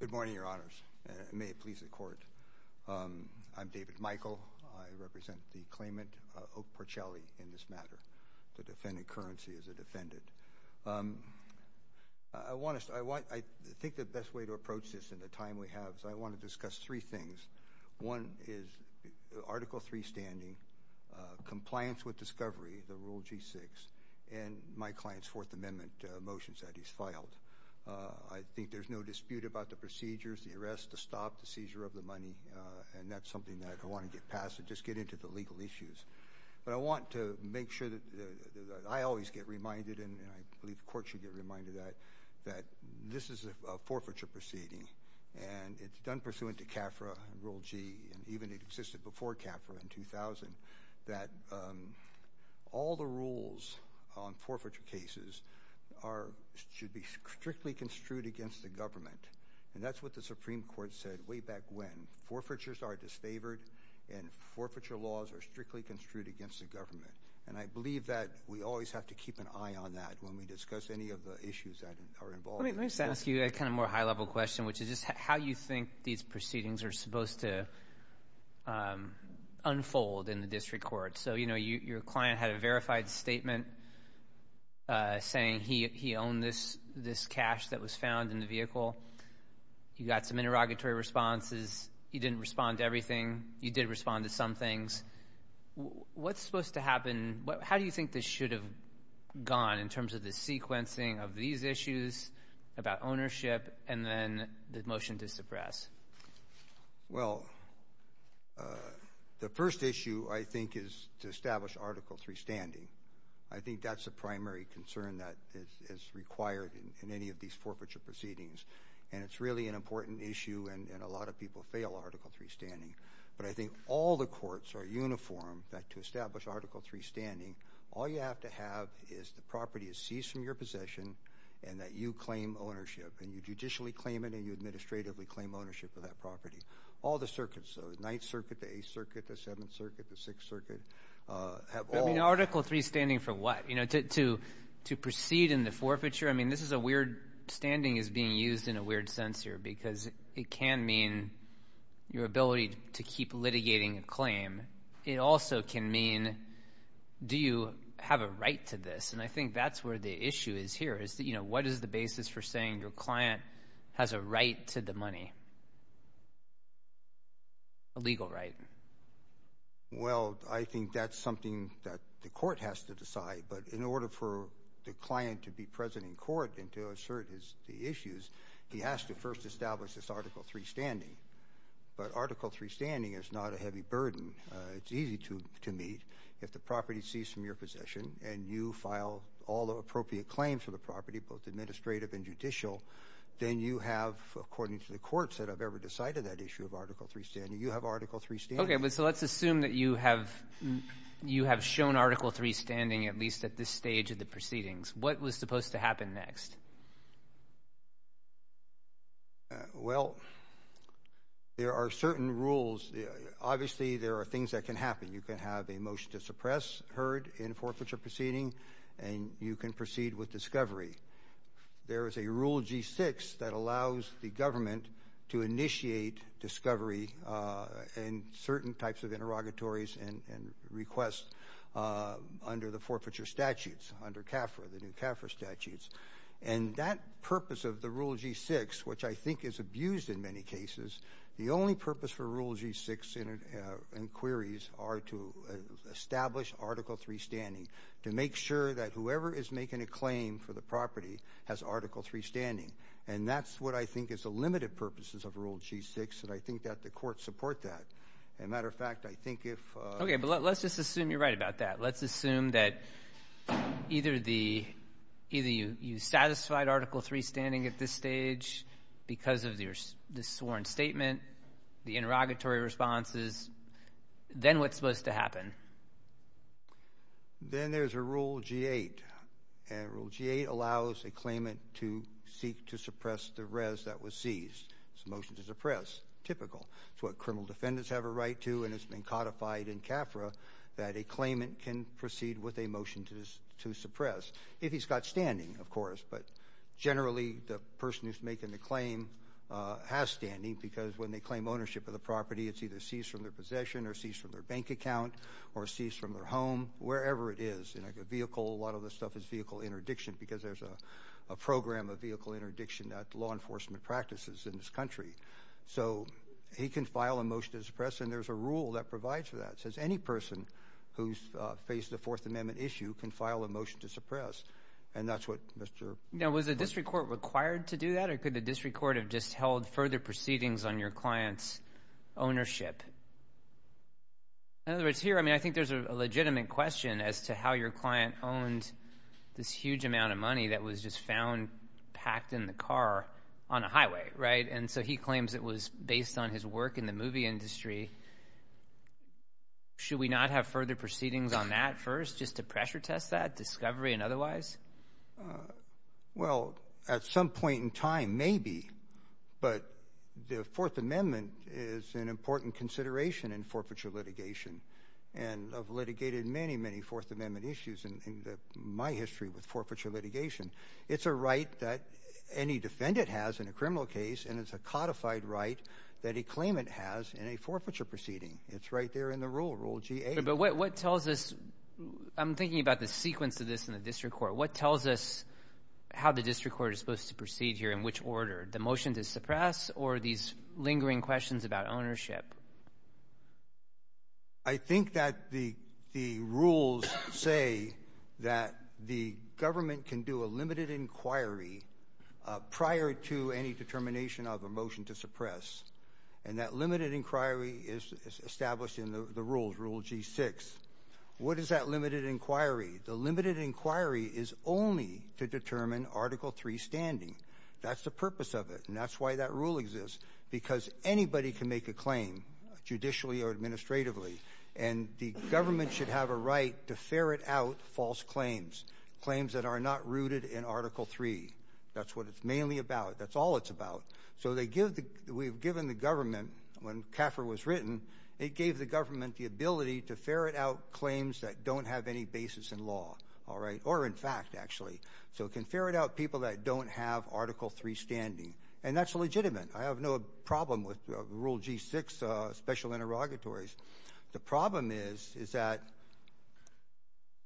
Good morning, Your Honors, and may it please the Court. I'm David Michael. I represent the claimant, Oak Porcelli, in this matter. The defendant, Currency, is a defendant. I think the best way to approach this in the time we have is I want to discuss three things. One is Article III standing, compliance with discovery, the Rule G-6, and my client's Fourth Child. I think there's no dispute about the procedures, the arrest, the stop, the seizure of the money, and that's something that I want to get past and just get into the legal issues. But I want to make sure that I always get reminded, and I believe the Court should get reminded of that, that this is a forfeiture proceeding, and it's done pursuant to CAFRA Rule G, and even it existed before CAFRA in 2000, that all the rules on forfeiture cases are, should be strictly construed against the government. And that's what the Supreme Court said way back when. Forfeitures are disfavored, and forfeiture laws are strictly construed against the government. And I believe that we always have to keep an eye on that when we discuss any of the issues that are involved. Let me just ask you a kind of more high-level question, which is just how you think these proceedings are supposed to unfold in the district court. So, you know, your client had a verified statement saying he owned this cash that was found in the vehicle. You got some interrogatory responses. You didn't respond to everything. You did respond to some things. What's supposed to happen? How do you think this should have gone in terms of the sequencing of these issues about ownership and then the motion to suppress? Well, the first issue, I think, is to establish Article III standing. I think that's the primary concern that is required in any of these forfeiture proceedings. And it's really an important issue, and a lot of people fail Article III standing. But I think all the courts are uniform that to establish Article III standing, all you have to have is the property is seized from your possession and that you claim ownership. And you judicially claim it and you administratively claim ownership of that property. All the circuits, the Ninth Circuit, the Eighth Circuit, the Seventh Circuit, the Sixth Circuit, have all... I mean, Article III standing for what? You know, to proceed in the forfeiture? I mean, this is a weird...standing is being used in a weird sense here because it can mean your ability to keep litigating a claim. It also can mean, do you have a right to this? And I think that's where the issue is here, is that, you know, what is the basis for saying your client has a right to the money? A legal right. Well, I think that's something that the court has to decide. But in order for the client to be present in court and to assert his...the issues, he has to first establish this Article III standing. But Article III standing is not a heavy burden. It's easy to meet. If the property is seized from your possession and you file all the appropriate claims for the property, both administrative and judicial, then you have, according to the courts that have ever decided that issue of Article III standing, you have Article III standing. Okay. So let's assume that you have shown Article III standing at least at this stage of the proceedings. What was supposed to happen next? Well, there are certain rules. Obviously, there are things that can happen. You can have a motion to suppress, heard in forfeiture proceeding, and you can proceed with discovery. There is a Rule G-6 that allows the government to initiate discovery and certain types of interrogatories and requests under the forfeiture statutes, under CAFRA, the new CAFRA statutes. And that purpose of the Rule G-6, which I think is abused in many cases, the only purpose for Rule G-6 inquiries are to establish Article III standing, to make sure that whoever is making a claim for the property has Article III standing. And that's what I think is the limited purposes of Rule G-6, and I think that the courts support that. As a matter of fact, I think if... Okay. But let's just assume you're right about that. Let's assume that either you satisfied Article III standing at this stage because of this sworn statement, the interrogatory responses, then what's supposed to happen? Then there's a Rule G-8, and Rule G-8 allows a claimant to seek to suppress the res that was seized. It's a motion to suppress, typical. It's what criminal defendants have a right to, and it's been codified in CAFRA that a claimant can proceed with a motion to suppress, if he's got standing, of course. But generally, the person who's making the claim has standing because when they claim ownership of the property, it's either seized from their possession or seized from their bank account or seized from their home, wherever it is. A vehicle, a lot of this stuff is vehicle interdiction because there's a program of vehicle interdiction that law enforcement practices in this country. So he can file a motion to suppress, and there's a rule that provides for that. It says any person who's faced a Fourth Amendment issue can file a motion to suppress, and that's what Mr. — Now, was the district court required to do that, or could the district court have just held further proceedings on your client's ownership? In other words, here, I mean, I think there's a legitimate question as to how your client owned this huge amount of money that was just found packed in the car on a highway, right? And so he claims it was based on his work in the movie industry. Should we not have further proceedings on that first just to pressure test that, discovery and otherwise? Well, at some point in time, maybe, but the Fourth Amendment is an important consideration in forfeiture litigation, and I've litigated many, many Fourth Amendment issues in my history with forfeiture litigation. It's a right that any defendant has in a criminal case, and it's a codified right that a claimant has in a forfeiture proceeding. It's right there in the rule, Rule GA. But what tells us — I'm thinking about the sequence of this in the district court. What tells us how the district court is supposed to proceed here, in which order? The motion to suppress or these lingering questions about ownership? I think that the rules say that the government can do a limited inquiry prior to any determination of a motion to suppress, and that limited inquiry is established in the rules, Rule G6. What is that limited inquiry? The limited inquiry is only to determine Article III standing. That's the purpose of it, and that's why that rule exists, because anybody can make a claim, judicially or administratively, and the government should have a right to ferret out false claims, claims that are not rooted in Article III. That's what it's mainly about. That's all it's about. So we've given the government — when CAFR was written, it gave the government the ability to ferret out claims that don't have any basis in law, or in fact, actually. So it can ferret out people that don't have Article III standing, and that's legitimate. I have no problem with Rule G6 special interrogatories. The problem is that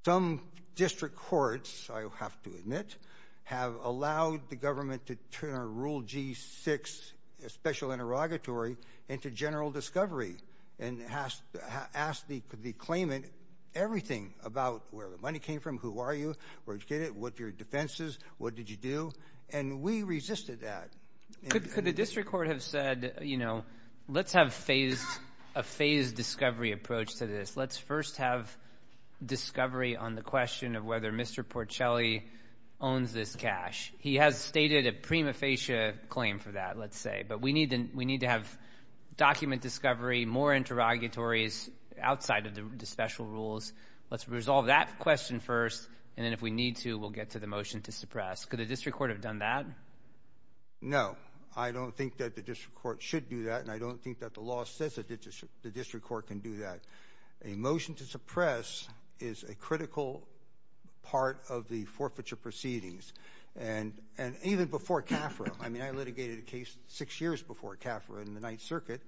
some district courts, I have to admit, have allowed the government to turn a Rule G6 special interrogatory into general discovery and ask the claimant everything about where the money came from, who are you, where did you get it, what your defense is, what did you do, and we resisted that. Could the district court have said, you know, let's have a phased discovery approach to this. Let's first have discovery on the question of whether Mr. Porcelli owns this cash. He has stated a prima facie claim for that, let's say. But we need to have document discovery, more interrogatories outside of the special rules. Let's resolve that question first, and then if we need to, we'll get to the motion to suppress. Could the district court have done that? No. I don't think that the district court should do that, and I don't think that the district court can do that. A motion to suppress is a critical part of the forfeiture proceedings, and even before CAFRA, I mean, I litigated a case six years before CAFRA in the 9th Circuit,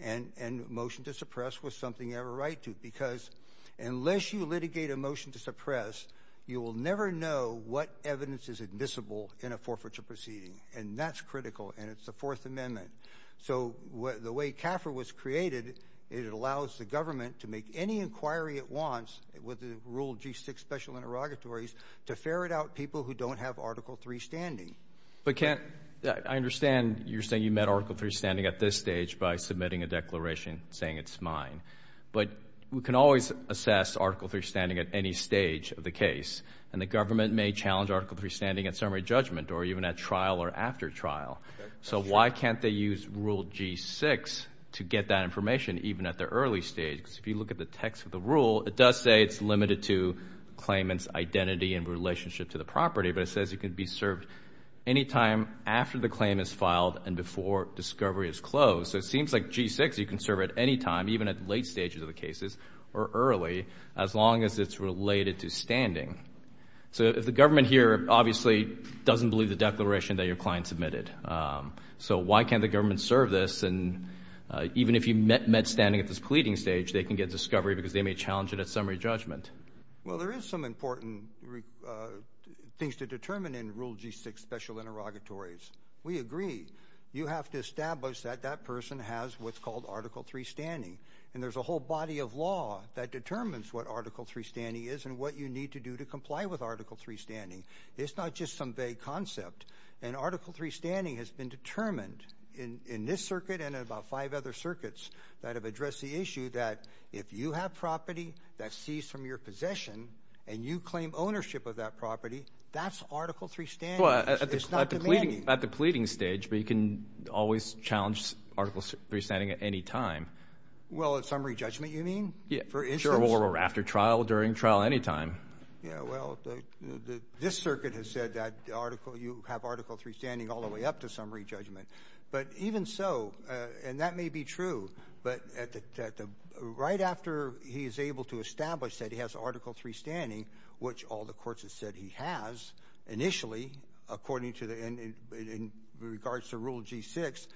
and motion to suppress was something you have a right to, because unless you litigate a motion to suppress, you will never know what evidence is admissible in a forfeiture proceeding, and that's critical, and it's the Fourth Amendment. So the way CAFRA was created, it allows the government to make any inquiry it wants with the Rule G6 special interrogatories to ferret out people who don't have Article III standing. But Kent, I understand you're saying you met Article III standing at this stage by submitting a declaration saying it's mine, but we can always assess Article III standing at any stage of the case, and the government may challenge Article III standing at summary judgment, or even at trial or after trial. So why can't they use Rule G6 to get that information even at the early stage? Because if you look at the text of the rule, it does say it's limited to claimant's identity in relationship to the property, but it says it can be served any time after the claim is filed and before discovery is closed. So it seems like G6 you can serve at any time, even at late stages of the cases, or early, as long as it's related to standing. So if the government here obviously doesn't believe the declaration that your client submitted, so why can't the government serve this? And even if you met standing at this pleading stage, they can get discovery because they may challenge it at summary judgment. Well, there is some important things to determine in Rule G6 special interrogatories. We agree. You have to establish that that person has what's called Article III standing, and there's a whole body of law that determines what Article III standing is and what you need to do to comply with Article III standing. It's not just some vague concept. And Article III standing has been determined in this circuit and in about five other circuits that have addressed the issue that if you have property that's seized from your possession and you claim ownership of that property, that's Article III standing. It's not demanding. At the pleading stage, but you can always challenge Article III standing at any time. Well, at summary judgment, you mean? Yeah, sure, or after trial, during trial, any time. Yeah, well, this circuit has said that you have Article III standing all the way up to summary judgment. But even so, and that may be true, but right after he is able to establish that he has Article III standing, which all the courts have said he has initially, according to the, in regards to Rule G-6,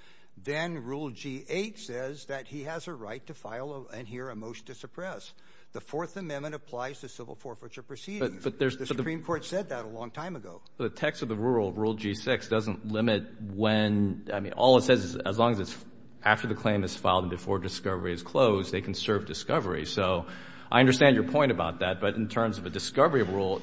then Rule G-8 says that he has a right to file and hear a motion to suppress. The Fourth Amendment applies to civil forfeiture proceedings. The Supreme Court said that a long time ago. The text of the rule, Rule G-6, doesn't limit when, I mean, all it says is as long as it's after the claim is filed and before discovery is closed, they can serve discovery. So I understand your point about that, but in terms of a discovery rule,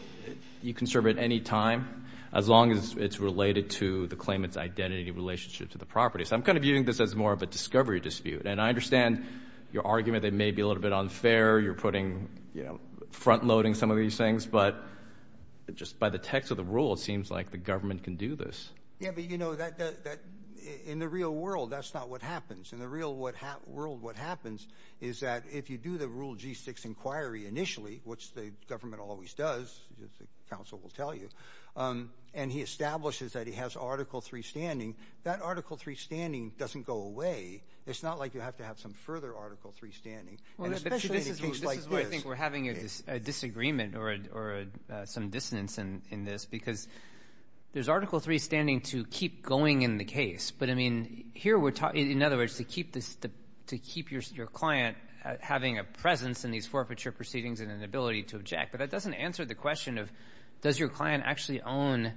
you can serve it any time, as long as it's related to the claimant's identity relationship to the property. So I'm kind of using this as more of a discovery dispute, and I understand your argument that may be a little bit unfair. You're putting, you know, front-loading some of these things, but just by the text of the rule, it seems like the government can do this. Yeah, but you know, that, in the real world, that's not what happens. In the real world, what happens is that if you do the Rule G-6 inquiry initially, which the government always does, as the counsel will tell you, and he establishes that he has Article III standing, that Article III standing doesn't go away. It's not like you have to have some further Article III standing, and especially in a case like this. Well, but this is why I think we're having a disagreement or some dissonance in this, because there's Article III standing to keep going in the case. But, I mean, here we're talking, in other words, to keep your client having a presence in these forfeiture proceedings and an ability to object. But that doesn't answer the question of, does your client actually own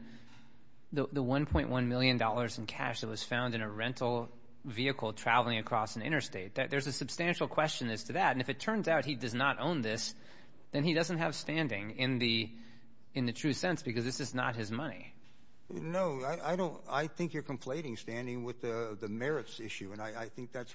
the $1.1 million in cash that was found in a rental vehicle traveling across an interstate? There's a substantial question as to that. And if it turns out he does not own this, then he doesn't have standing in the true sense, because this is not his money. No, I don't. I think you're conflating standing with the merits issue, and I think that's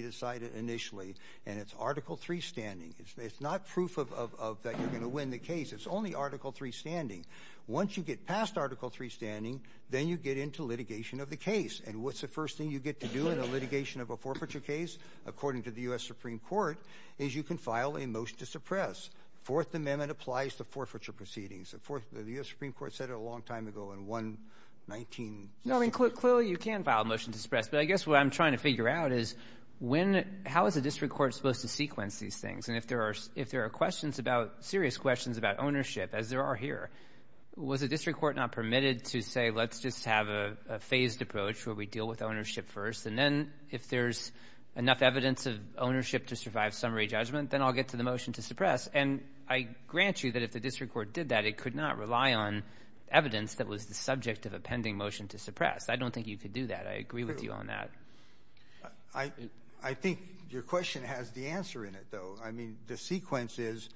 decided initially, and it's Article III standing. It's not proof of that you're going to win the case. It's only Article III standing. Once you get past Article III standing, then you get into litigation of the case. And what's the first thing you get to do in the litigation of a forfeiture case, according to the U.S. Supreme Court, is you can file a motion to suppress. Fourth Amendment applies to forfeiture proceedings. The U.S. Supreme Court said it a long time ago in 119. No, I mean, clearly you can file a motion to suppress, but I guess what I'm trying to question, how is a district court supposed to sequence these things? And if there are questions about, serious questions about ownership, as there are here, was a district court not permitted to say, let's just have a phased approach where we deal with ownership first, and then if there's enough evidence of ownership to survive summary judgment, then I'll get to the motion to suppress. And I grant you that if the district court did that, it could not rely on evidence that was the subject of a pending motion to suppress. I don't think you could do that. I agree with you on that. I think your question has the answer in it, though. I mean, the sequence is,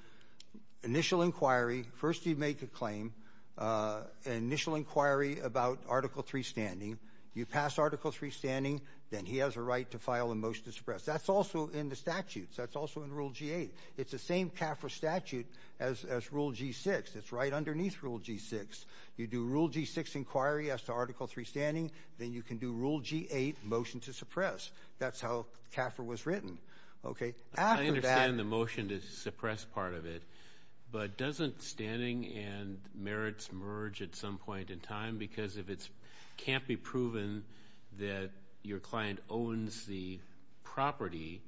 initial inquiry, first you make a claim, an initial inquiry about Article III standing, you pass Article III standing, then he has a right to file a motion to suppress. That's also in the statutes. That's also in Rule G-8. It's the same CAFRA statute as Rule G-6. It's right underneath Rule G-6. You do Rule G-6 inquiry as to Article III standing, then you can do Rule G-8 motion to suppress. That's how CAFRA was written. I understand the motion to suppress part of it, but doesn't standing and merits merge at some point in time? Because if it can't be proven that your client owns the property,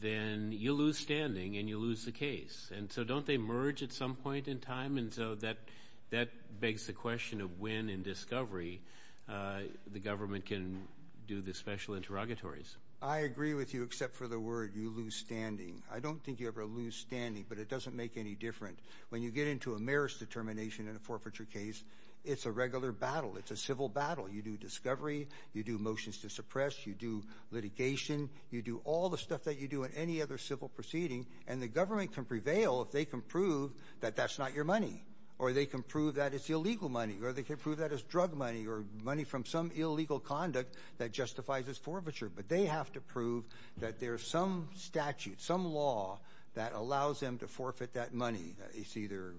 then you lose standing and you lose the case. And so don't they merge at some point in time? And so that begs the question of when in discovery the government can do the special interrogatories. I agree with you, except for the word, you lose standing. I don't think you ever lose standing, but it doesn't make any different. When you get into a merits determination in a forfeiture case, it's a regular battle. It's a civil battle. You do discovery, you do motions to suppress, you do litigation, you do all the stuff that you do in any other civil proceeding, and the government can prevail if they can prove that that's not your money, or they can prove that it's illegal money, or they can prove that drug money, or money from some illegal conduct that justifies this forfeiture. But they have to prove that there's some statute, some law that allows them to forfeit that money. It's either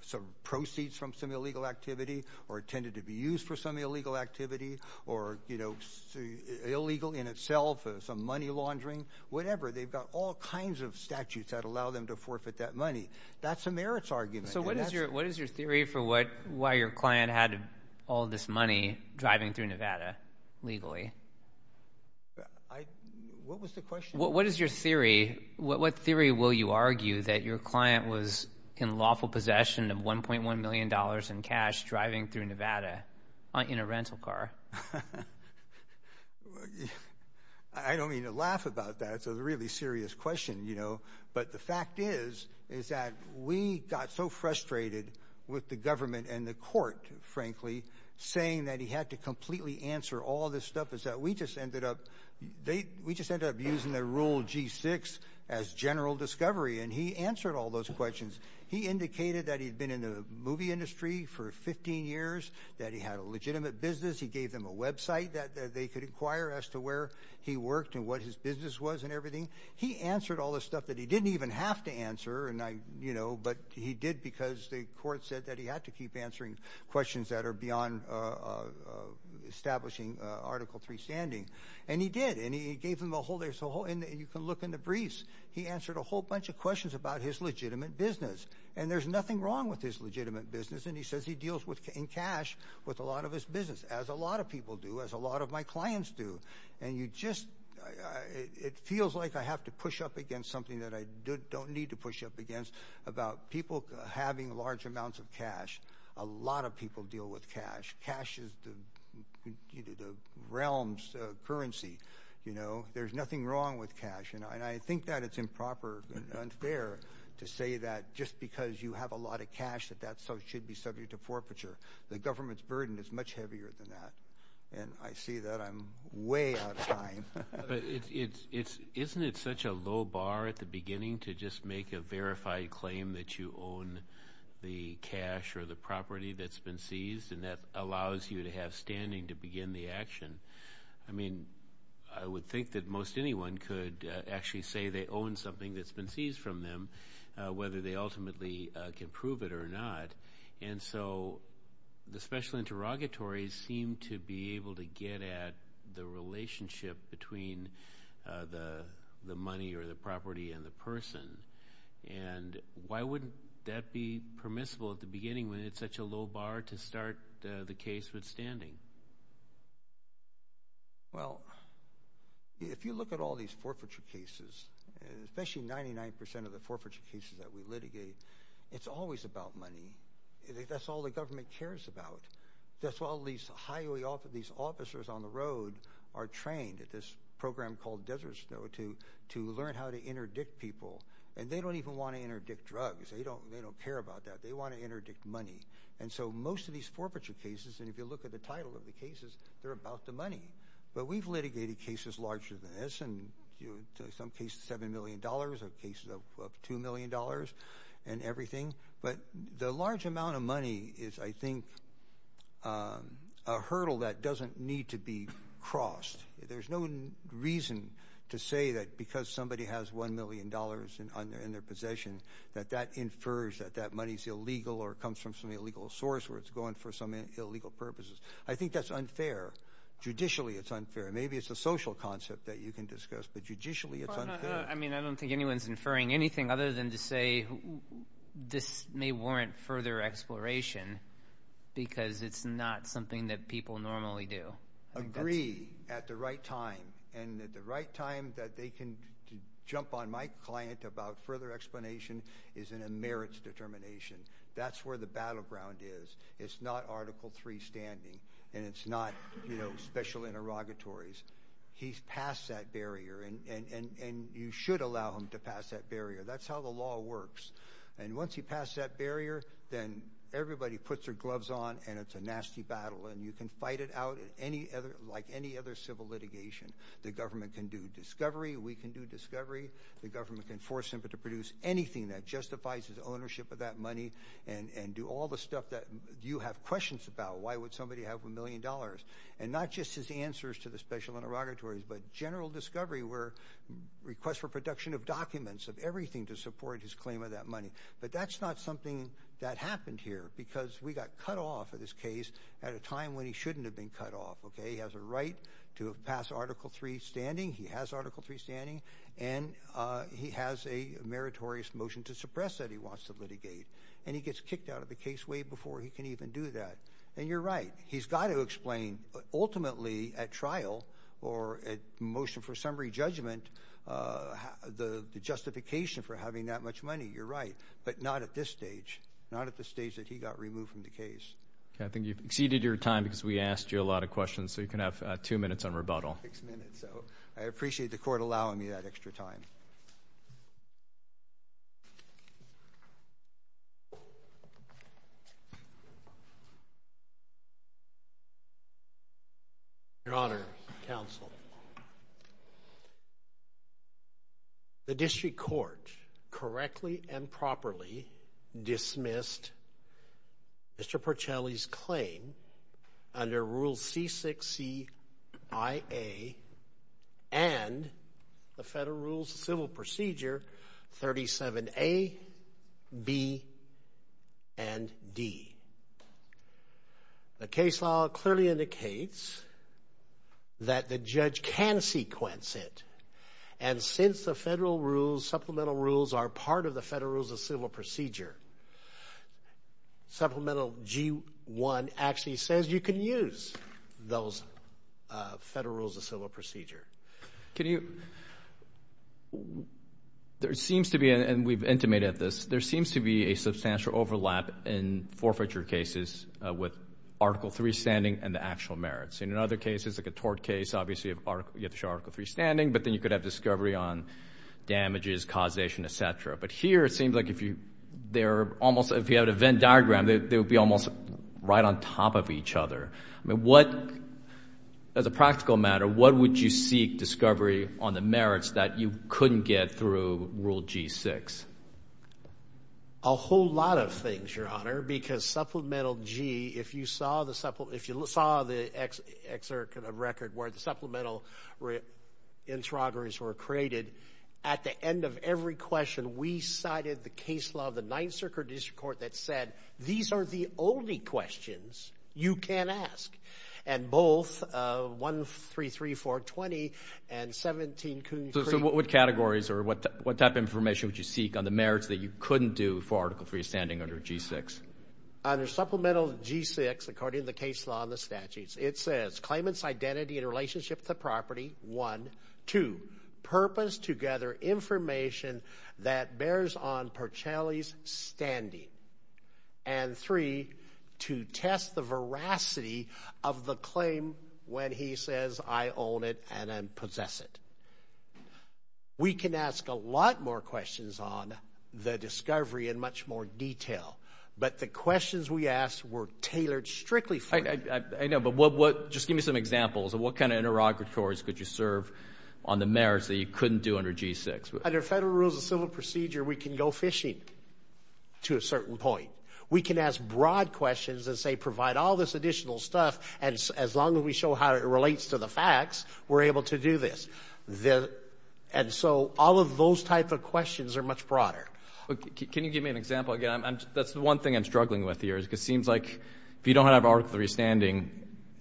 some proceeds from some illegal activity, or it tended to be used for some illegal activity, or illegal in itself, some money laundering, whatever. They've got all kinds of statutes that allow them to forfeit that money. That's a merits argument. So what is your theory for why your client had all this money driving through Nevada legally? What was the question? What is your theory? What theory will you argue that your client was in lawful possession of 1.1 million dollars in cash driving through Nevada in a rental car? I don't mean to laugh about that. It's a really serious question, you know. But the fact is, is that we got so frustrated with the government and the court, frankly, saying that he had to completely answer all this stuff, is that we just ended up using the rule G-6 as general discovery. And he answered all those questions. He indicated that he'd been in the movie industry for 15 years, that he had a legitimate business. He gave them a website that they could inquire as to where he worked and what his business was and everything. He answered all this stuff that he didn't even have to answer, and I, you know, but he did because the court said that he had to keep answering questions that are beyond establishing Article 3 standing. And he did, and he gave them a whole, there's a whole, and you can look in the briefs. He answered a whole bunch of questions about his legitimate business. And there's nothing wrong with his legitimate business, and he says he deals with, in cash, with a lot of his business, as a lot of people do, as a lot of my clients do. And you just, it feels like I have to push up against something that I don't need to push up against about people having large amounts of cash. A lot of people deal with cash. Cash is the realm's currency, you know. There's nothing wrong with cash, and I think that it's improper and unfair to say that just because you have a lot of cash that that should be subject to forfeiture. The government's burden is much heavier than that, and I see that I'm way out of time. Isn't it such a low bar at the beginning to just make a verified claim that you own the cash or the property that's been seized, and that allows you to have standing to begin the action? I mean, I would think that most anyone could actually say they own something that's been seized from them, whether they ultimately can prove it or not. And so, the special interrogatories seem to be able to get at the relationship between the money or the property and the person. And why wouldn't that be permissible at the beginning when it's such a low And especially 99% of the forfeiture cases that we litigate, it's always about money. That's all the government cares about. That's why all these officers on the road are trained at this program called Desert Snow to learn how to interdict people, and they don't even want to interdict drugs. They don't care about that. They want to interdict money. And so, most of these forfeiture cases, and if you look at the title of the cases, they're about the money. But we've some cases of $7 million or cases of $2 million and everything. But the large amount of money is, I think, a hurdle that doesn't need to be crossed. There's no reason to say that because somebody has $1 million in their possession, that that infers that that money is illegal or comes from some illegal source where it's going for some illegal purposes. I think that's unfair. Judicially, it's unfair. Maybe it's a social concept that you can discuss, but judicially, it's unfair. I mean, I don't think anyone's inferring anything other than to say, this may warrant further exploration because it's not something that people normally do. Agree at the right time, and at the right time that they can jump on my client about further explanation is in a merits determination. That's where the battleground is. It's not Article III standing, and it's not special interrogatories. He's passed that barrier, and you should allow him to pass that barrier. That's how the law works. And once he passed that barrier, then everybody puts their gloves on, and it's a nasty battle. And you can fight it out like any other civil litigation. The government can do discovery. We can do discovery. The government can force him to produce anything that justifies his ownership of that money and do all the stuff that you have questions about. Why would somebody have a million dollars? And not just his answers to the special interrogatories, but general discovery where requests for production of documents, of everything to support his claim of that money. But that's not something that happened here because we got cut off of this case at a time when he shouldn't have been cut off, okay? He has a right to pass Article III standing. He has Article III standing, and he has a meritorious motion to suppress that he wants to And you're right. He's got to explain ultimately at trial or at motion for summary judgment the justification for having that much money. You're right, but not at this stage. Not at the stage that he got removed from the case. I think you've exceeded your time because we asked you a lot of questions, so you can have two minutes on rebuttal. Six minutes, so I appreciate the Your Honor, counsel. The district court correctly and properly dismissed Mr. Porcelli's claim under Rule C6CIA and the Federal Rules of Civil Procedure 37A, B, and D. The case law clearly indicates that the judge can sequence it, and since the federal rules, supplemental rules, are part of the Federal Rules of Civil Procedure, Supplemental G1 actually says you can use those Federal Rules of Civil Procedure. There seems to be, and we've intimated this, there seems to be a substantial overlap in forfeiture cases with Article III standing and the actual merits. And in other cases, like a tort case, obviously you have to show Article III standing, but then you could have discovery on damages, causation, etc. But here it seems like if you have an event diagram, they would be almost right on top of each other. I mean, what, as a practical matter, what would you seek discovery on the merits that you couldn't get through Rule G6? A whole lot of things, Your Honor, because Supplemental G, if you saw the excerpt of the record where the supplemental interrogatories were created, at the end of every question, we cited the case law of the Ninth Circuit District Court that said, these are the only questions you can ask. And both 133, 420, and 17 Coonerty. So what categories or what type of information would you seek on the merits that you couldn't do for Article III standing under G6? Under Supplemental G6, according to the case law and the statutes, it says, claimant's identity in relationship to the property, one. Two, purpose to gather information that bears on Percelli's standing. And three, to test the veracity of the claim when he says, I own it and I possess it. We can ask a lot more questions on the discovery in much more detail, but the questions we asked were tailored strictly for... I know, but what, just give me some categories could you serve on the merits that you couldn't do under G6? Under Federal Rules of Civil Procedure, we can go fishing to a certain point. We can ask broad questions and say, provide all this additional stuff, and as long as we show how it relates to the facts, we're able to do this. And so all of those types of questions are much broader. Can you give me an example again? That's the one thing I'm struggling with here, is it seems like if you don't have Article III standing,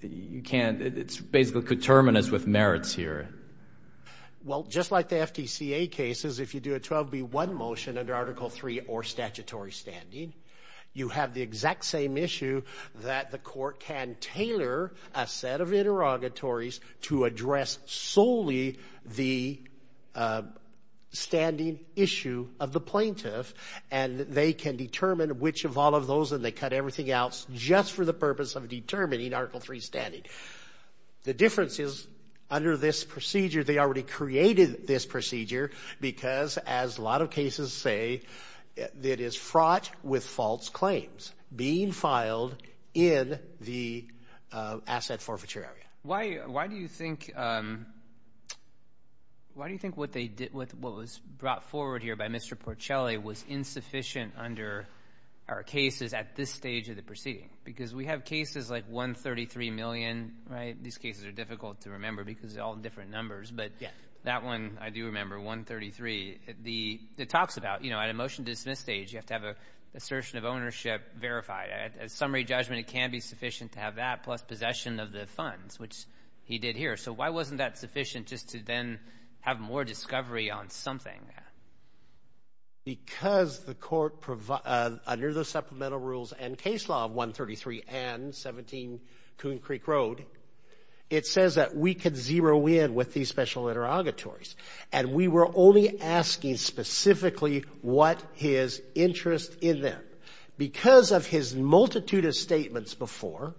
you can't... It's basically terminus with merits here. Well, just like the FTCA cases, if you do a 12B1 motion under Article III or statutory standing, you have the exact same issue that the court can tailor a set of interrogatories to address solely the standing issue of the plaintiff. And they can determine which of all of those, and they cut everything else just for the purpose of determining Article III standing. The difference is under this procedure, they already created this procedure because as a lot of cases say, it is fraught with false claims being filed in the asset forfeiture area. Why do you think what was brought forward here by Mr. Porcelli was insufficient under our cases at this stage of the proceeding? Because we have cases like 133 million, right? These cases are difficult to remember because they're all different numbers, but that one I do remember, 133. It talks about at a motion dismiss stage, you have to have an assertion of ownership verified. At summary judgment, it can be sufficient to have that plus possession of the funds, which he did here. So why wasn't that sufficient just to then have more discovery on something? Because the court, under the supplemental rules and case law of 133 and 17 Coon Creek Road, it says that we could zero in with these special interrogatories, and we were only asking specifically what his interest in them. Because of his multitude of statements before,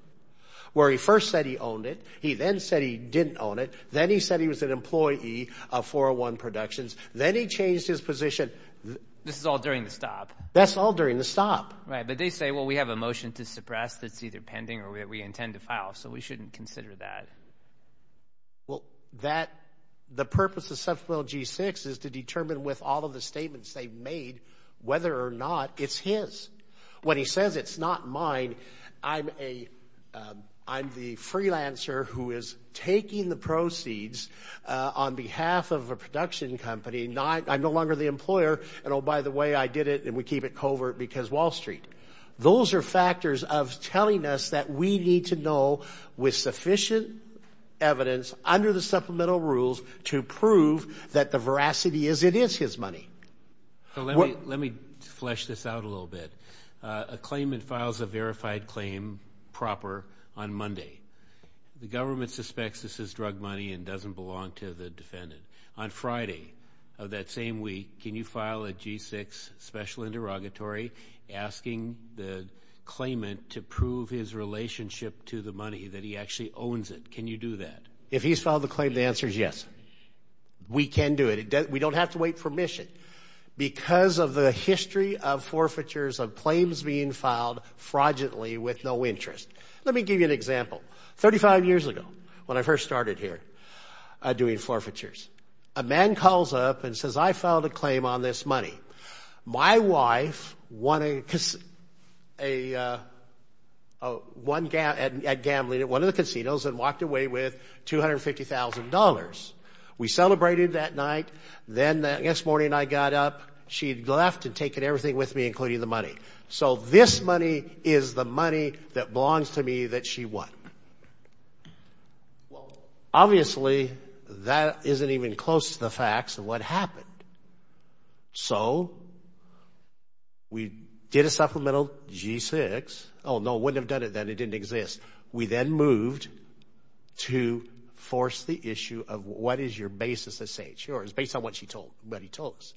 where he first said he owned it, he then said he didn't own it, then he said he was an employee of 401 Productions, then he changed his position. This is all during the stop. That's all during the stop. Right, but they say, well, we have a motion to suppress that's either pending or we intend to file, so we shouldn't consider that. Well, the purpose of supplemental G-6 is to determine with all of the statements they've made whether or not it's his. When he on behalf of a production company, I'm no longer the employer, and oh, by the way, I did it, and we keep it covert because Wall Street. Those are factors of telling us that we need to know with sufficient evidence under the supplemental rules to prove that the veracity is it is his money. Let me flesh this out a little bit. A claimant files a verified claim proper on Monday. The government suspects this is drug money and doesn't belong to the defendant. On Friday of that same week, can you file a G-6 special interrogatory asking the claimant to prove his relationship to the money, that he actually owns it? Can you do that? If he's filed the claim, the answer is yes. We can do it. We don't have to wait for mission. Because of the 35 years ago, when I first started here doing forfeitures, a man calls up and says, I filed a claim on this money. My wife won at gambling at one of the casinos and walked away with $250,000. We celebrated that night. Then the next morning, I got up. She'd left and taken everything with me, including the money. So this money is the money that belongs to me that she won. Well, obviously, that isn't even close to the facts of what happened. So we did a supplemental G-6. Oh, no, wouldn't have done it then. It didn't exist. We then moved to force the issue of what is your basis to say it's yours based on what she told, what he told us.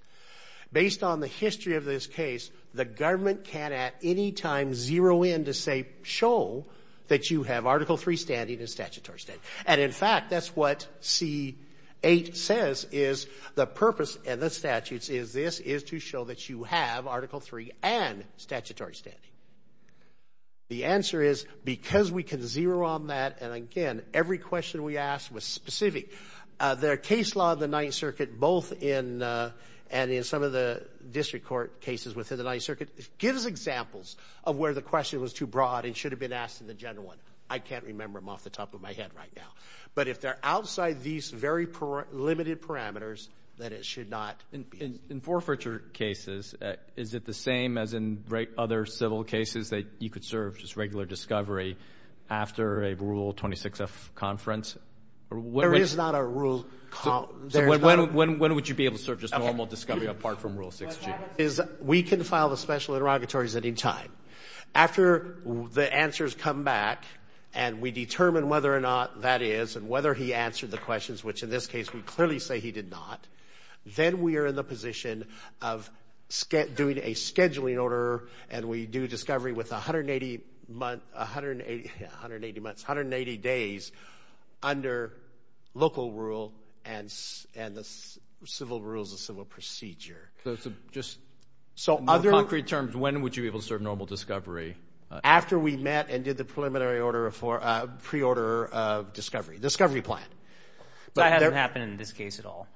Based on the history of this case, the government can at any time zero in to say, show that you have Article 3 standing and statutory standing. And in fact, that's what C-8 says is the purpose of the statutes is this, is to show that you have Article 3 and statutory standing. The answer is because we can zero on that. And again, every question we asked was specific. Their case law of the Ninth Circuit, both in and in some of the district court cases within the Ninth Circuit, gives examples of where the question was too broad and should have been asked in the general one. I can't remember them off the top of my head right now. But if they're outside these very limited parameters, then it should not be. In forfeiture cases, is it the same as in other civil cases that you could serve just normal discovery apart from Rule 6G? We can file the special interrogatories at any time. After the answers come back and we determine whether or not that is and whether he answered the questions, which in this case we clearly say he did not, then we are in the position of doing a scheduling order and we do discovery with 180 days under local rule and the civil rules of civil procedure. So in concrete terms, when would you be able to serve normal discovery? After we met and did the preliminary order for pre-order of discovery, discovery plan. That hasn't happened in this case at all?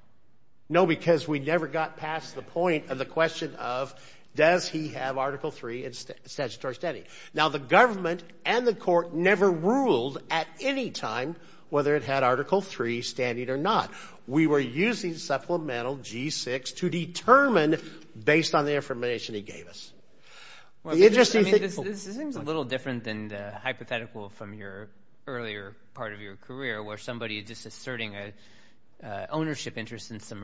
No, because we never got past the point of the does he have Article 3 in statutory standing? Now the government and the court never ruled at any time whether it had Article 3 standing or not. We were using supplemental G-6 to determine based on the information he gave us. This seems a little different than the hypothetical from your earlier part of your career where somebody is just asserting an ownership interest in some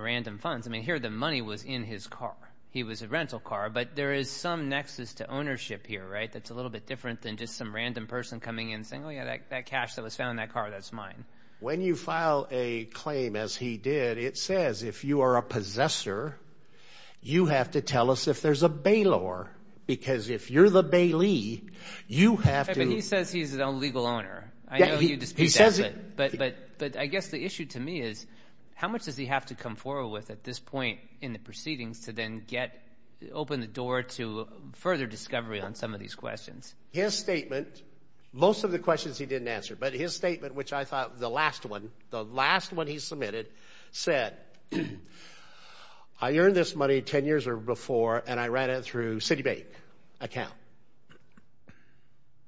there is some nexus to ownership here, right? That's a little bit different than just some random person coming in saying, oh yeah, that cash that was found in that car, that's mine. When you file a claim as he did, it says if you are a possessor, you have to tell us if there's a bailor because if you're the bailee, you have to... But he says he's a legal owner. I know you dispute that, but I guess the issue to me is how much does he have to come forward with at this point in the proceedings to then get open the door to further discovery on some of these questions? His statement, most of the questions he didn't answer, but his statement which I thought the last one, the last one he submitted said, I earned this money 10 years or before and I ran it through Citibank account.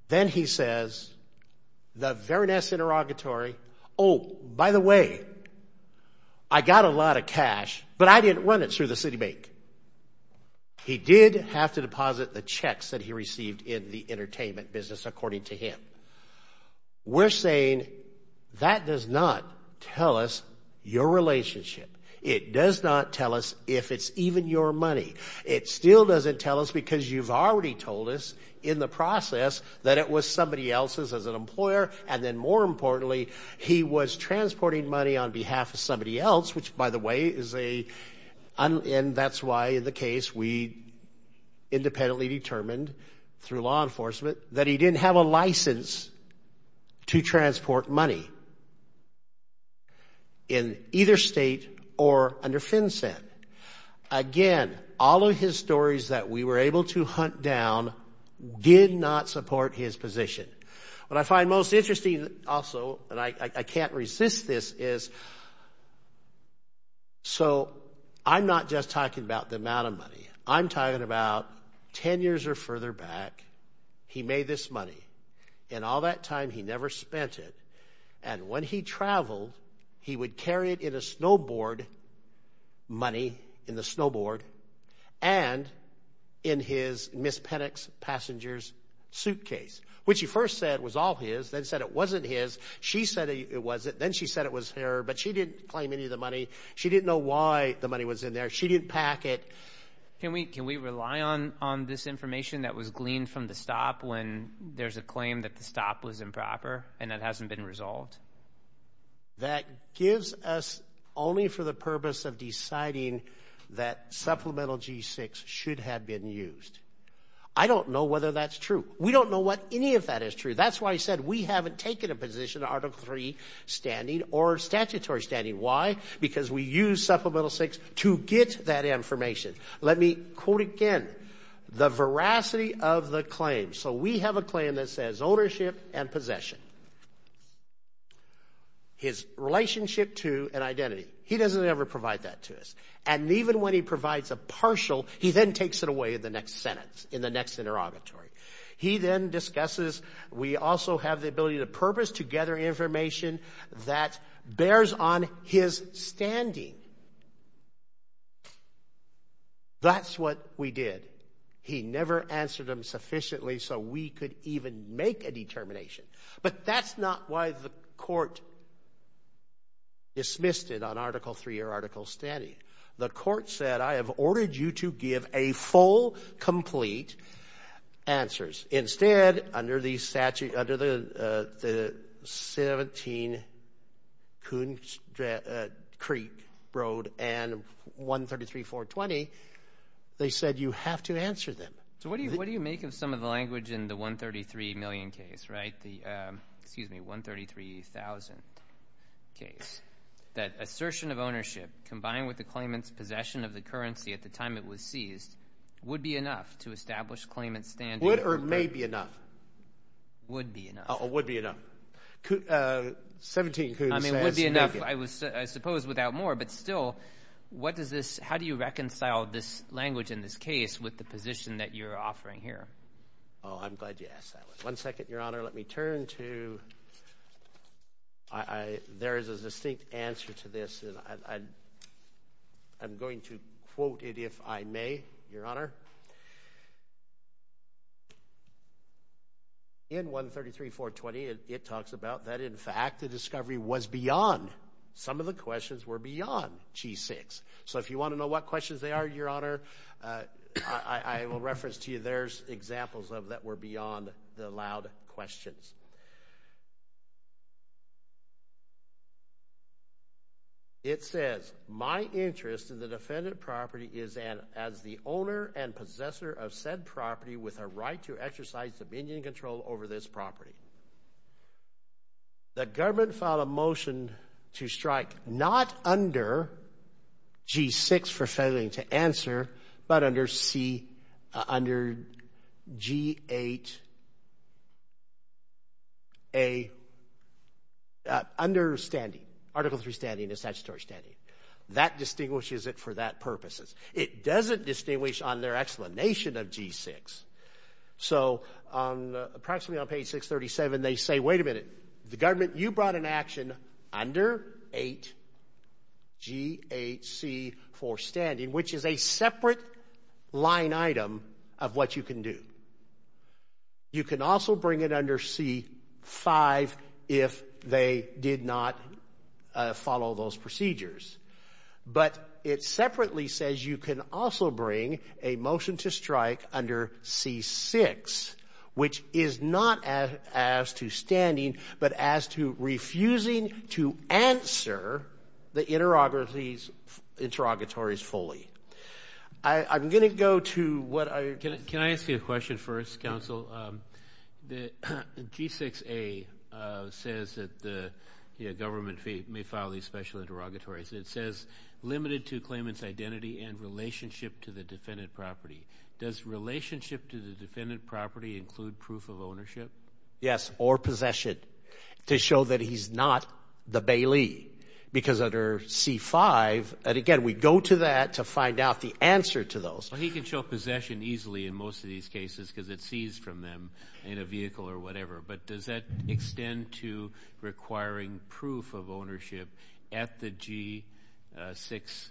Then he says, the Verness Interrogatory, oh, by the way, I got a lot of cash, but I didn't run it through the Citibank. He did have to deposit the checks that he received in the entertainment business according to him. We're saying that does not tell us your relationship. It does not tell us if it's even your money. It still doesn't tell us because you've already told us in the process that it was somebody else's as an employer and then more importantly, he was transporting money on behalf of somebody else, which by the way, and that's why in the case we independently determined through law enforcement that he didn't have a license to transport money in either state or under FinCEN. Again, all of his stories that we were able to hunt down did not support his position. What I find most interesting also, and I can't resist this is, so I'm not just talking about the amount of money. I'm talking about 10 years or further back, he made this money and all that time he never spent it and when he traveled, he would carry it in a snowboard money, in the snowboard and in his Ms. Penick's passenger's suitcase, which he first said was all his, then said it wasn't his. She said it wasn't, then she said it was her, but she didn't claim any of the money. She didn't know why the money was in there. She didn't pack it. Can we rely on this information that was gleaned from the stop when there's a only for the purpose of deciding that Supplemental G6 should have been used? I don't know whether that's true. We don't know what any of that is true. That's why I said we haven't taken a position in Article 3 standing or statutory standing. Why? Because we use Supplemental 6 to get that information. Let me quote again, the veracity of the claim. So we have a claim that says ownership and possession. His relationship to an identity, he doesn't ever provide that to us and even when he provides a partial, he then takes it away in the next sentence, in the next interrogatory. He then discusses, we also have the ability to purpose to gather information that bears on his standing. That's what we did. He never answered them and make a determination. But that's not why the court dismissed it on Article 3 or Article standing. The court said, I have ordered you to give a full, complete answers. Instead, under the 17 Coon Creek Road and 133-420, they said you have to answer them. So what do you make of some of the language in the 133 million case, right? The, excuse me, 133,000 case. That assertion of ownership combined with the claimant's possession of the currency at the time it was seized would be enough to establish claimant's standing. Would or may be enough. Would be enough. Would be enough. 17 Coon says may be enough. I mean, would be enough, I suppose, without more. But still, what does this, how do you reconcile this language in this case with the position that you're offering here? Oh, I'm glad you asked that one. One second, Your Honor. Let me turn to, there is a distinct answer to this, and I'm going to quote it if I may, Your Honor. In 133-420, it talks about that, in fact, the discovery was beyond. Some of the questions were beyond G6. So if you want to know what questions they are, Your Honor, I will reference to you there's examples of that were beyond the allowed questions. It says, my interest in the defendant property is as the owner and possessor of said property with a right to exercise dominion control over this property. The government filed a motion to strike, not under G6 for failing to answer, but under G8A understanding, Article 3 standing, the statutory standing. That distinguishes it for that purposes. It doesn't distinguish on their explanation of G6. So, approximately on page 637, they say, wait a minute. The government, you brought an action under 8G8C for standing, which is a separate line item of what you can do. You can also bring it under C5 if they did not follow those procedures. But it separately says you can also bring a motion to strike under C6, which is not as to standing, but as to refusing to answer the interrogatories fully. I'm going to go to what I... Can I ask you a question first, counsel? The G6A says that the government may file these special interrogatories. It says, limited to claimant's identity and relationship to the defendant property. Does relationship to the defendant property include proof of ownership? Yes, or possession, to show that he's not the Bailey, because under C5, and again, we go to that to find out the answer to those. He can show possession easily in most of these cases because it's seized from them in a vehicle or whatever. But does that extend to requiring proof of ownership at the G6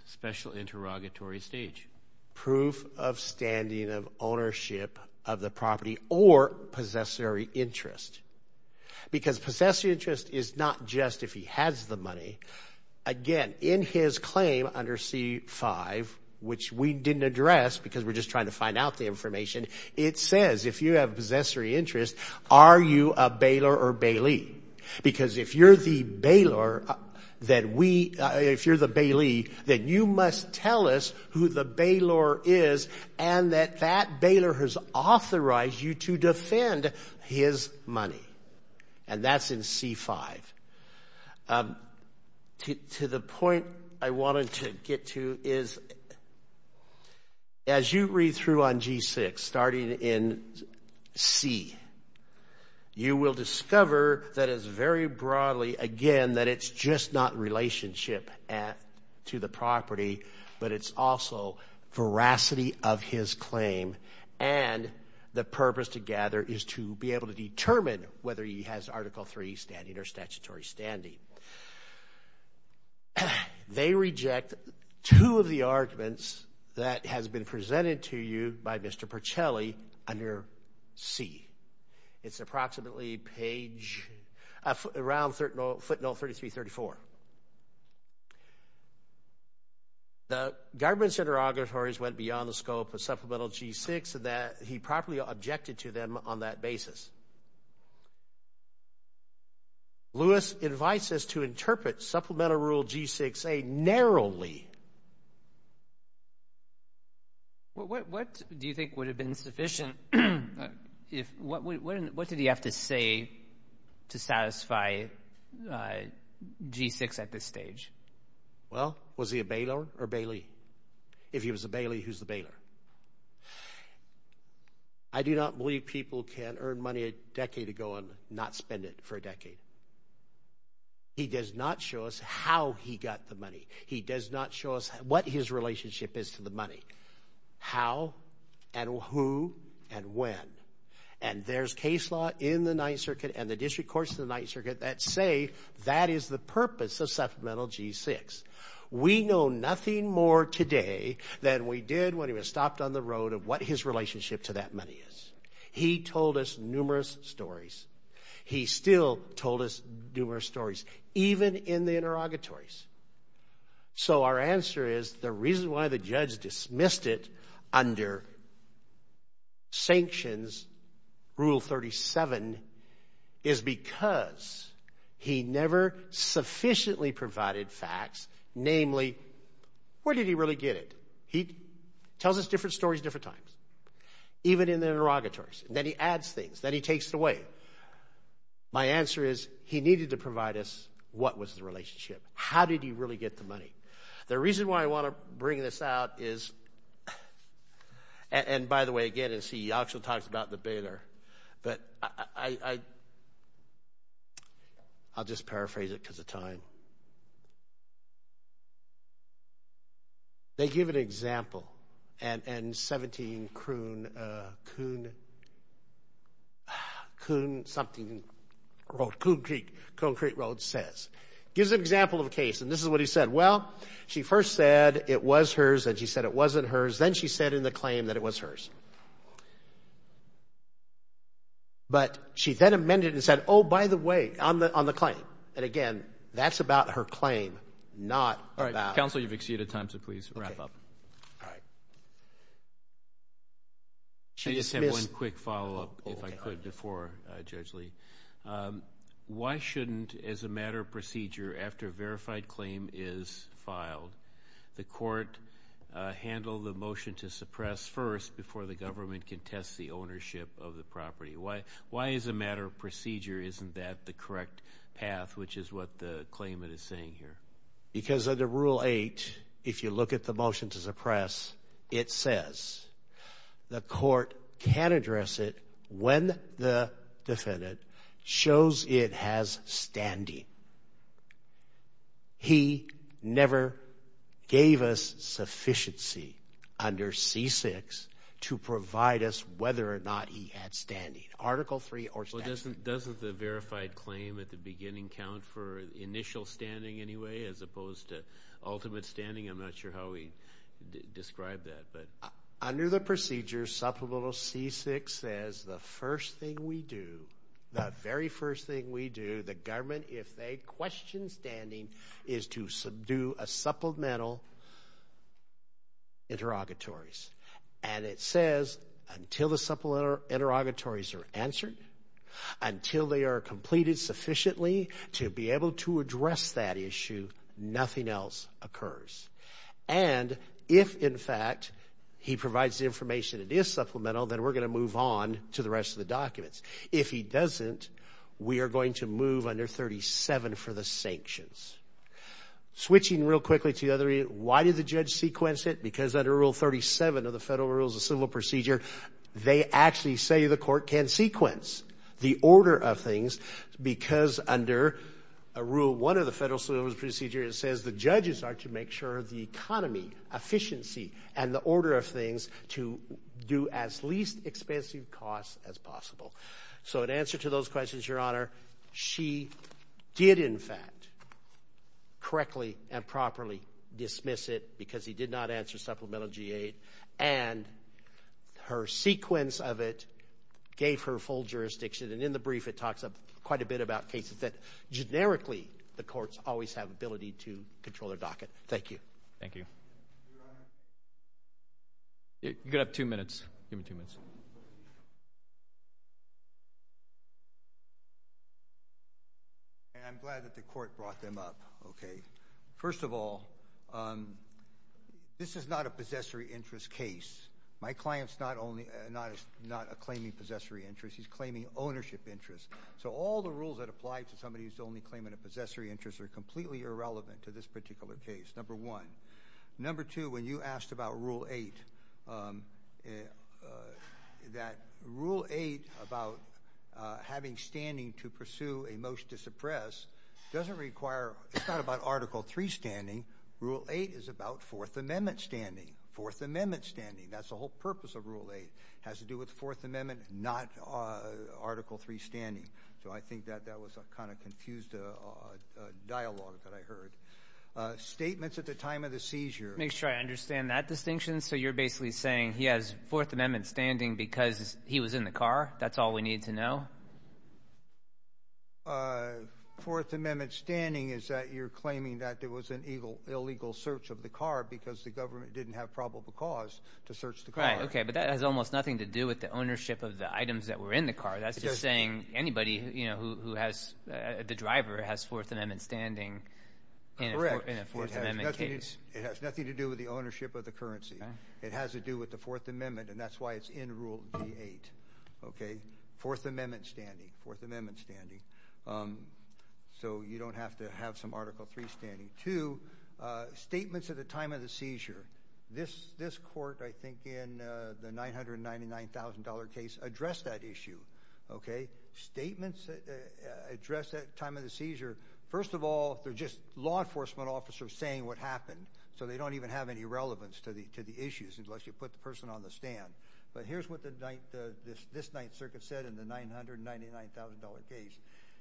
special interrogatory stage? Proof of standing of ownership of the property or possessory interest. Because possessory interest is not just if he has the money. Again, in his claim under C5, which we didn't address because we're just trying to find out the information, it says if you have possessory interest, are you a Baylor or Bailey? Because if you're the Bailey, then you must tell us who the Baylor is and that that Baylor has authorized you to defend his money. And that's in C5. To the point I wanted to get to is as you read through on G6, starting in C, you will discover that it's very broadly, again, that it's just not relationship to the property, but it's also veracity of his claim. And the purpose to gather is to be able to determine whether he has Article III standing or statutory standing. They reject two of the arguments that has been presented to you by Mr. Percelli under C. It's approximately page, around footnote 33-34. The government's interrogatories went beyond the scope of Supplemental G6 that he properly objected to them on that basis. Lewis invites us to interpret Supplemental Rule G6A narrowly. What do you think would have been sufficient? What did he have to say to satisfy G6 at this stage? Well, was he a Baylor or Bailey? If he was a Bailey, who's the Baylor? I do not believe people can earn money a decade ago and not spend it for a decade. He does not show us how he got the money. He does not show us what his relationship is to the money, how, and who, and when. And there's case law in the Ninth Circuit and the District Courts of the Ninth Circuit that say that is the purpose of Supplemental G6. We know nothing more today than we did when he was stopped on the road of what his relationship to that money is. He told us numerous stories. He still told us numerous stories, even in the interrogatories. So our answer is the reason why the judge dismissed it under Sanctions Rule 37 is because he never sufficiently provided facts, namely, where did he really get it? He tells us different stories different times, even in the interrogatories. Then he adds things. Then he takes it away. My answer is he needed to provide us what was the relationship. How did he really get the money? The reason why I want to bring this out is, and by the way, again, as he actually talks about the bailer, but I'll just paraphrase it because of time. They give an example, and 17 Coon something road, Coon Creek Road says. Gives an example of a case, and this is what he said. Well, she first said it was hers, and she said it wasn't hers. Then she said in the claim that it was hers. But she then amended and said, oh, by the way, on the claim, and again, that's about her claim, not about- All right, counsel, you've exceeded time, so please wrap up. Okay. All right. She dismissed- I just have one quick follow-up, if I could, before Judge Lee. Why shouldn't, as a matter of procedure, after a verified claim is filed, the court handle the motion to suppress first before the government can test the ownership of the property? Why, as a matter of procedure, isn't that the correct path, which is what the claimant is saying here? Because under Rule 8, if you look at the motion to suppress, it says the court can address it when the defendant shows it has standing. He never gave us sufficiency under C-6 to provide us whether or not he had standing, Article 3 or statute. Well, doesn't the verified claim at the beginning count for initial standing anyway, as opposed to ultimate standing? I'm not sure how we describe that, but- Under the procedure, Supplemental C-6 says the first thing we do, the very first thing we do, the government, if they question standing, is to subdue a supplemental interrogatories. And it says until the supplemental interrogatories are answered, until they are completed sufficiently to be able to address that issue, nothing else occurs. And if, in fact, he provides the information it is supplemental, then we're going to move on to the rest of the documents. If he doesn't, we are going to move under 37 for the sanctions. Switching real quickly to the other area, why did the judge sequence it? Because under Rule 37 of the Federal Rules of Civil Procedure, they actually say the court can sequence the order of things because under Rule 1 of the Federal Civil Procedure, it says the judges are to make sure the economy, efficiency, and the order of things to do as least expensive costs as possible. So in answer to those questions, Your Honor, she did, in fact, correctly and properly dismiss it because he did not answer Supplemental G-8. And her sequence of it gave her full jurisdiction. And in the brief, it talks up quite a bit about cases that, generically, the courts always have ability to control their docket. Thank you. Thank you. You got two minutes. Give me two minutes. And I'm glad that the court brought them up. Okay. First of all, this is not a possessory interest case. My client's not claiming possessory interest. He's claiming ownership interest. So all the rules that apply to somebody who's only claiming a possessory interest are completely irrelevant to this particular case, number one. Number two, when you asked about Rule 8, that Rule 8 about having standing to pursue a motion to suppress doesn't require—it's not about Article 3 standing. Rule 8 is about Fourth Amendment standing. Fourth Amendment standing. That's the whole purpose of Rule 8. It has to do with Fourth Amendment, not Article 3 standing. So I think that that was a kind of confused dialogue that I heard. Statements at the time of the seizure. Make sure I understand that distinction. So you're basically saying he has Fourth Amendment standing because he was in the car? That's all we need to know? Fourth Amendment standing is that you're claiming that there was an illegal search of the car because the government didn't have probable cause to search the car. Right. Okay. But that has almost nothing to do with the ownership of the items that were in the car. That's just saying anybody who has—the driver has Fourth Amendment standing. Correct. In a Fourth Amendment case. It has nothing to do with the ownership of the currency. It has to do with the Fourth Amendment, and that's why it's in Rule 8. Okay? Fourth Amendment standing. Fourth Amendment standing. So you don't have to have some Article 3 standing. Two, statements at the time of the seizure. This court, I think, in the $999,000 case addressed that issue. Okay? Statements addressed at the time of the seizure. First of all, they're just law enforcement officers saying what happened, so they don't even have any relevance to the issues unless you put the person on the stand. But here's what this Ninth Circuit said in the $999,000 case.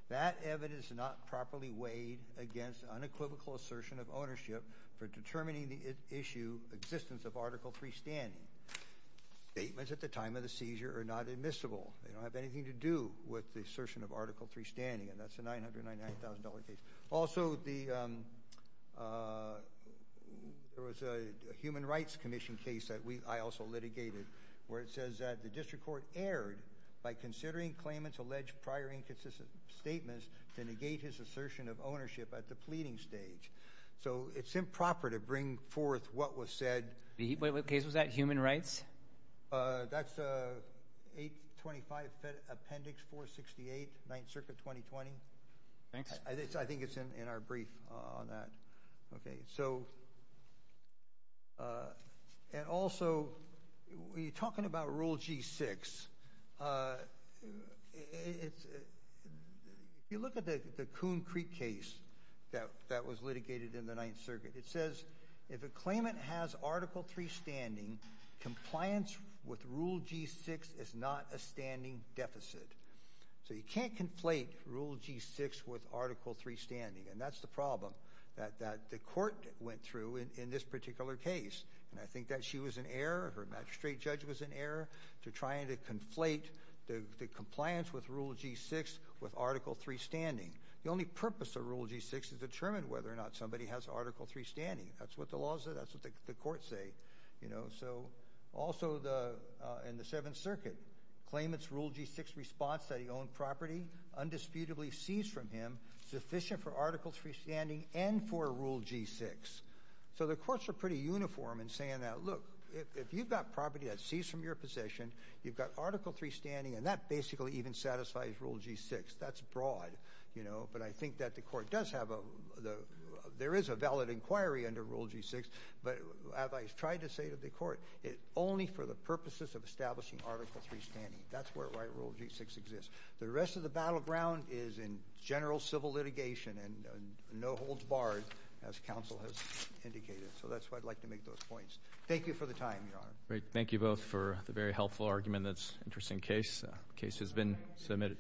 That evidence is not properly weighed against unequivocal assertion of ownership for determining the issue existence of Article 3 standing. Statements at the time of the seizure are not admissible. They don't have anything to do with the assertion of Article 3 standing, and that's the $999,000 case. Also, there was a Human Rights Commission case that I also litigated, where it says that the district court erred by considering claimants' alleged prior inconsistent statements to negate his assertion of ownership at the pleading stage. So it's improper to bring forth what was said— Wait, what case was that? Human Rights? Uh, that's 825 Appendix 468, Ninth Circuit 2020. Thanks. I think it's in our brief on that. Okay, so— And also, when you're talking about Rule G-6, if you look at the Coon Creek case that was litigated in the Ninth Circuit, it says if a claimant has Article 3 standing, compliance with Rule G-6 is not a standing deficit. So you can't conflate Rule G-6 with Article 3 standing, and that's the problem that the court went through in this particular case. And I think that she was in error, her magistrate judge was in error, to trying to conflate the compliance with Rule G-6 with Article 3 standing. The only purpose of Rule G-6 is to determine whether or not somebody has Article 3 standing. That's what the laws say. That's what the courts say, you know. So also, in the Seventh Circuit, claimants' Rule G-6 response that he owned property undisputedly seized from him sufficient for Article 3 standing and for Rule G-6. So the courts are pretty uniform in saying that, look, if you've got property that's seized from your possession, you've got Article 3 standing, and that basically even satisfies Rule G-6. That's broad. But I think that the court does have a— there is a valid inquiry under Rule G-6, but as I've tried to say to the court, it's only for the purposes of establishing Article 3 standing. That's where Rule G-6 exists. The rest of the battleground is in general civil litigation, and no holds barred, as counsel has indicated. So that's why I'd like to make those points. Thank you for the time, Your Honor. Great. Thank you both for the very helpful argument. That's an interesting case. Case has been submitted.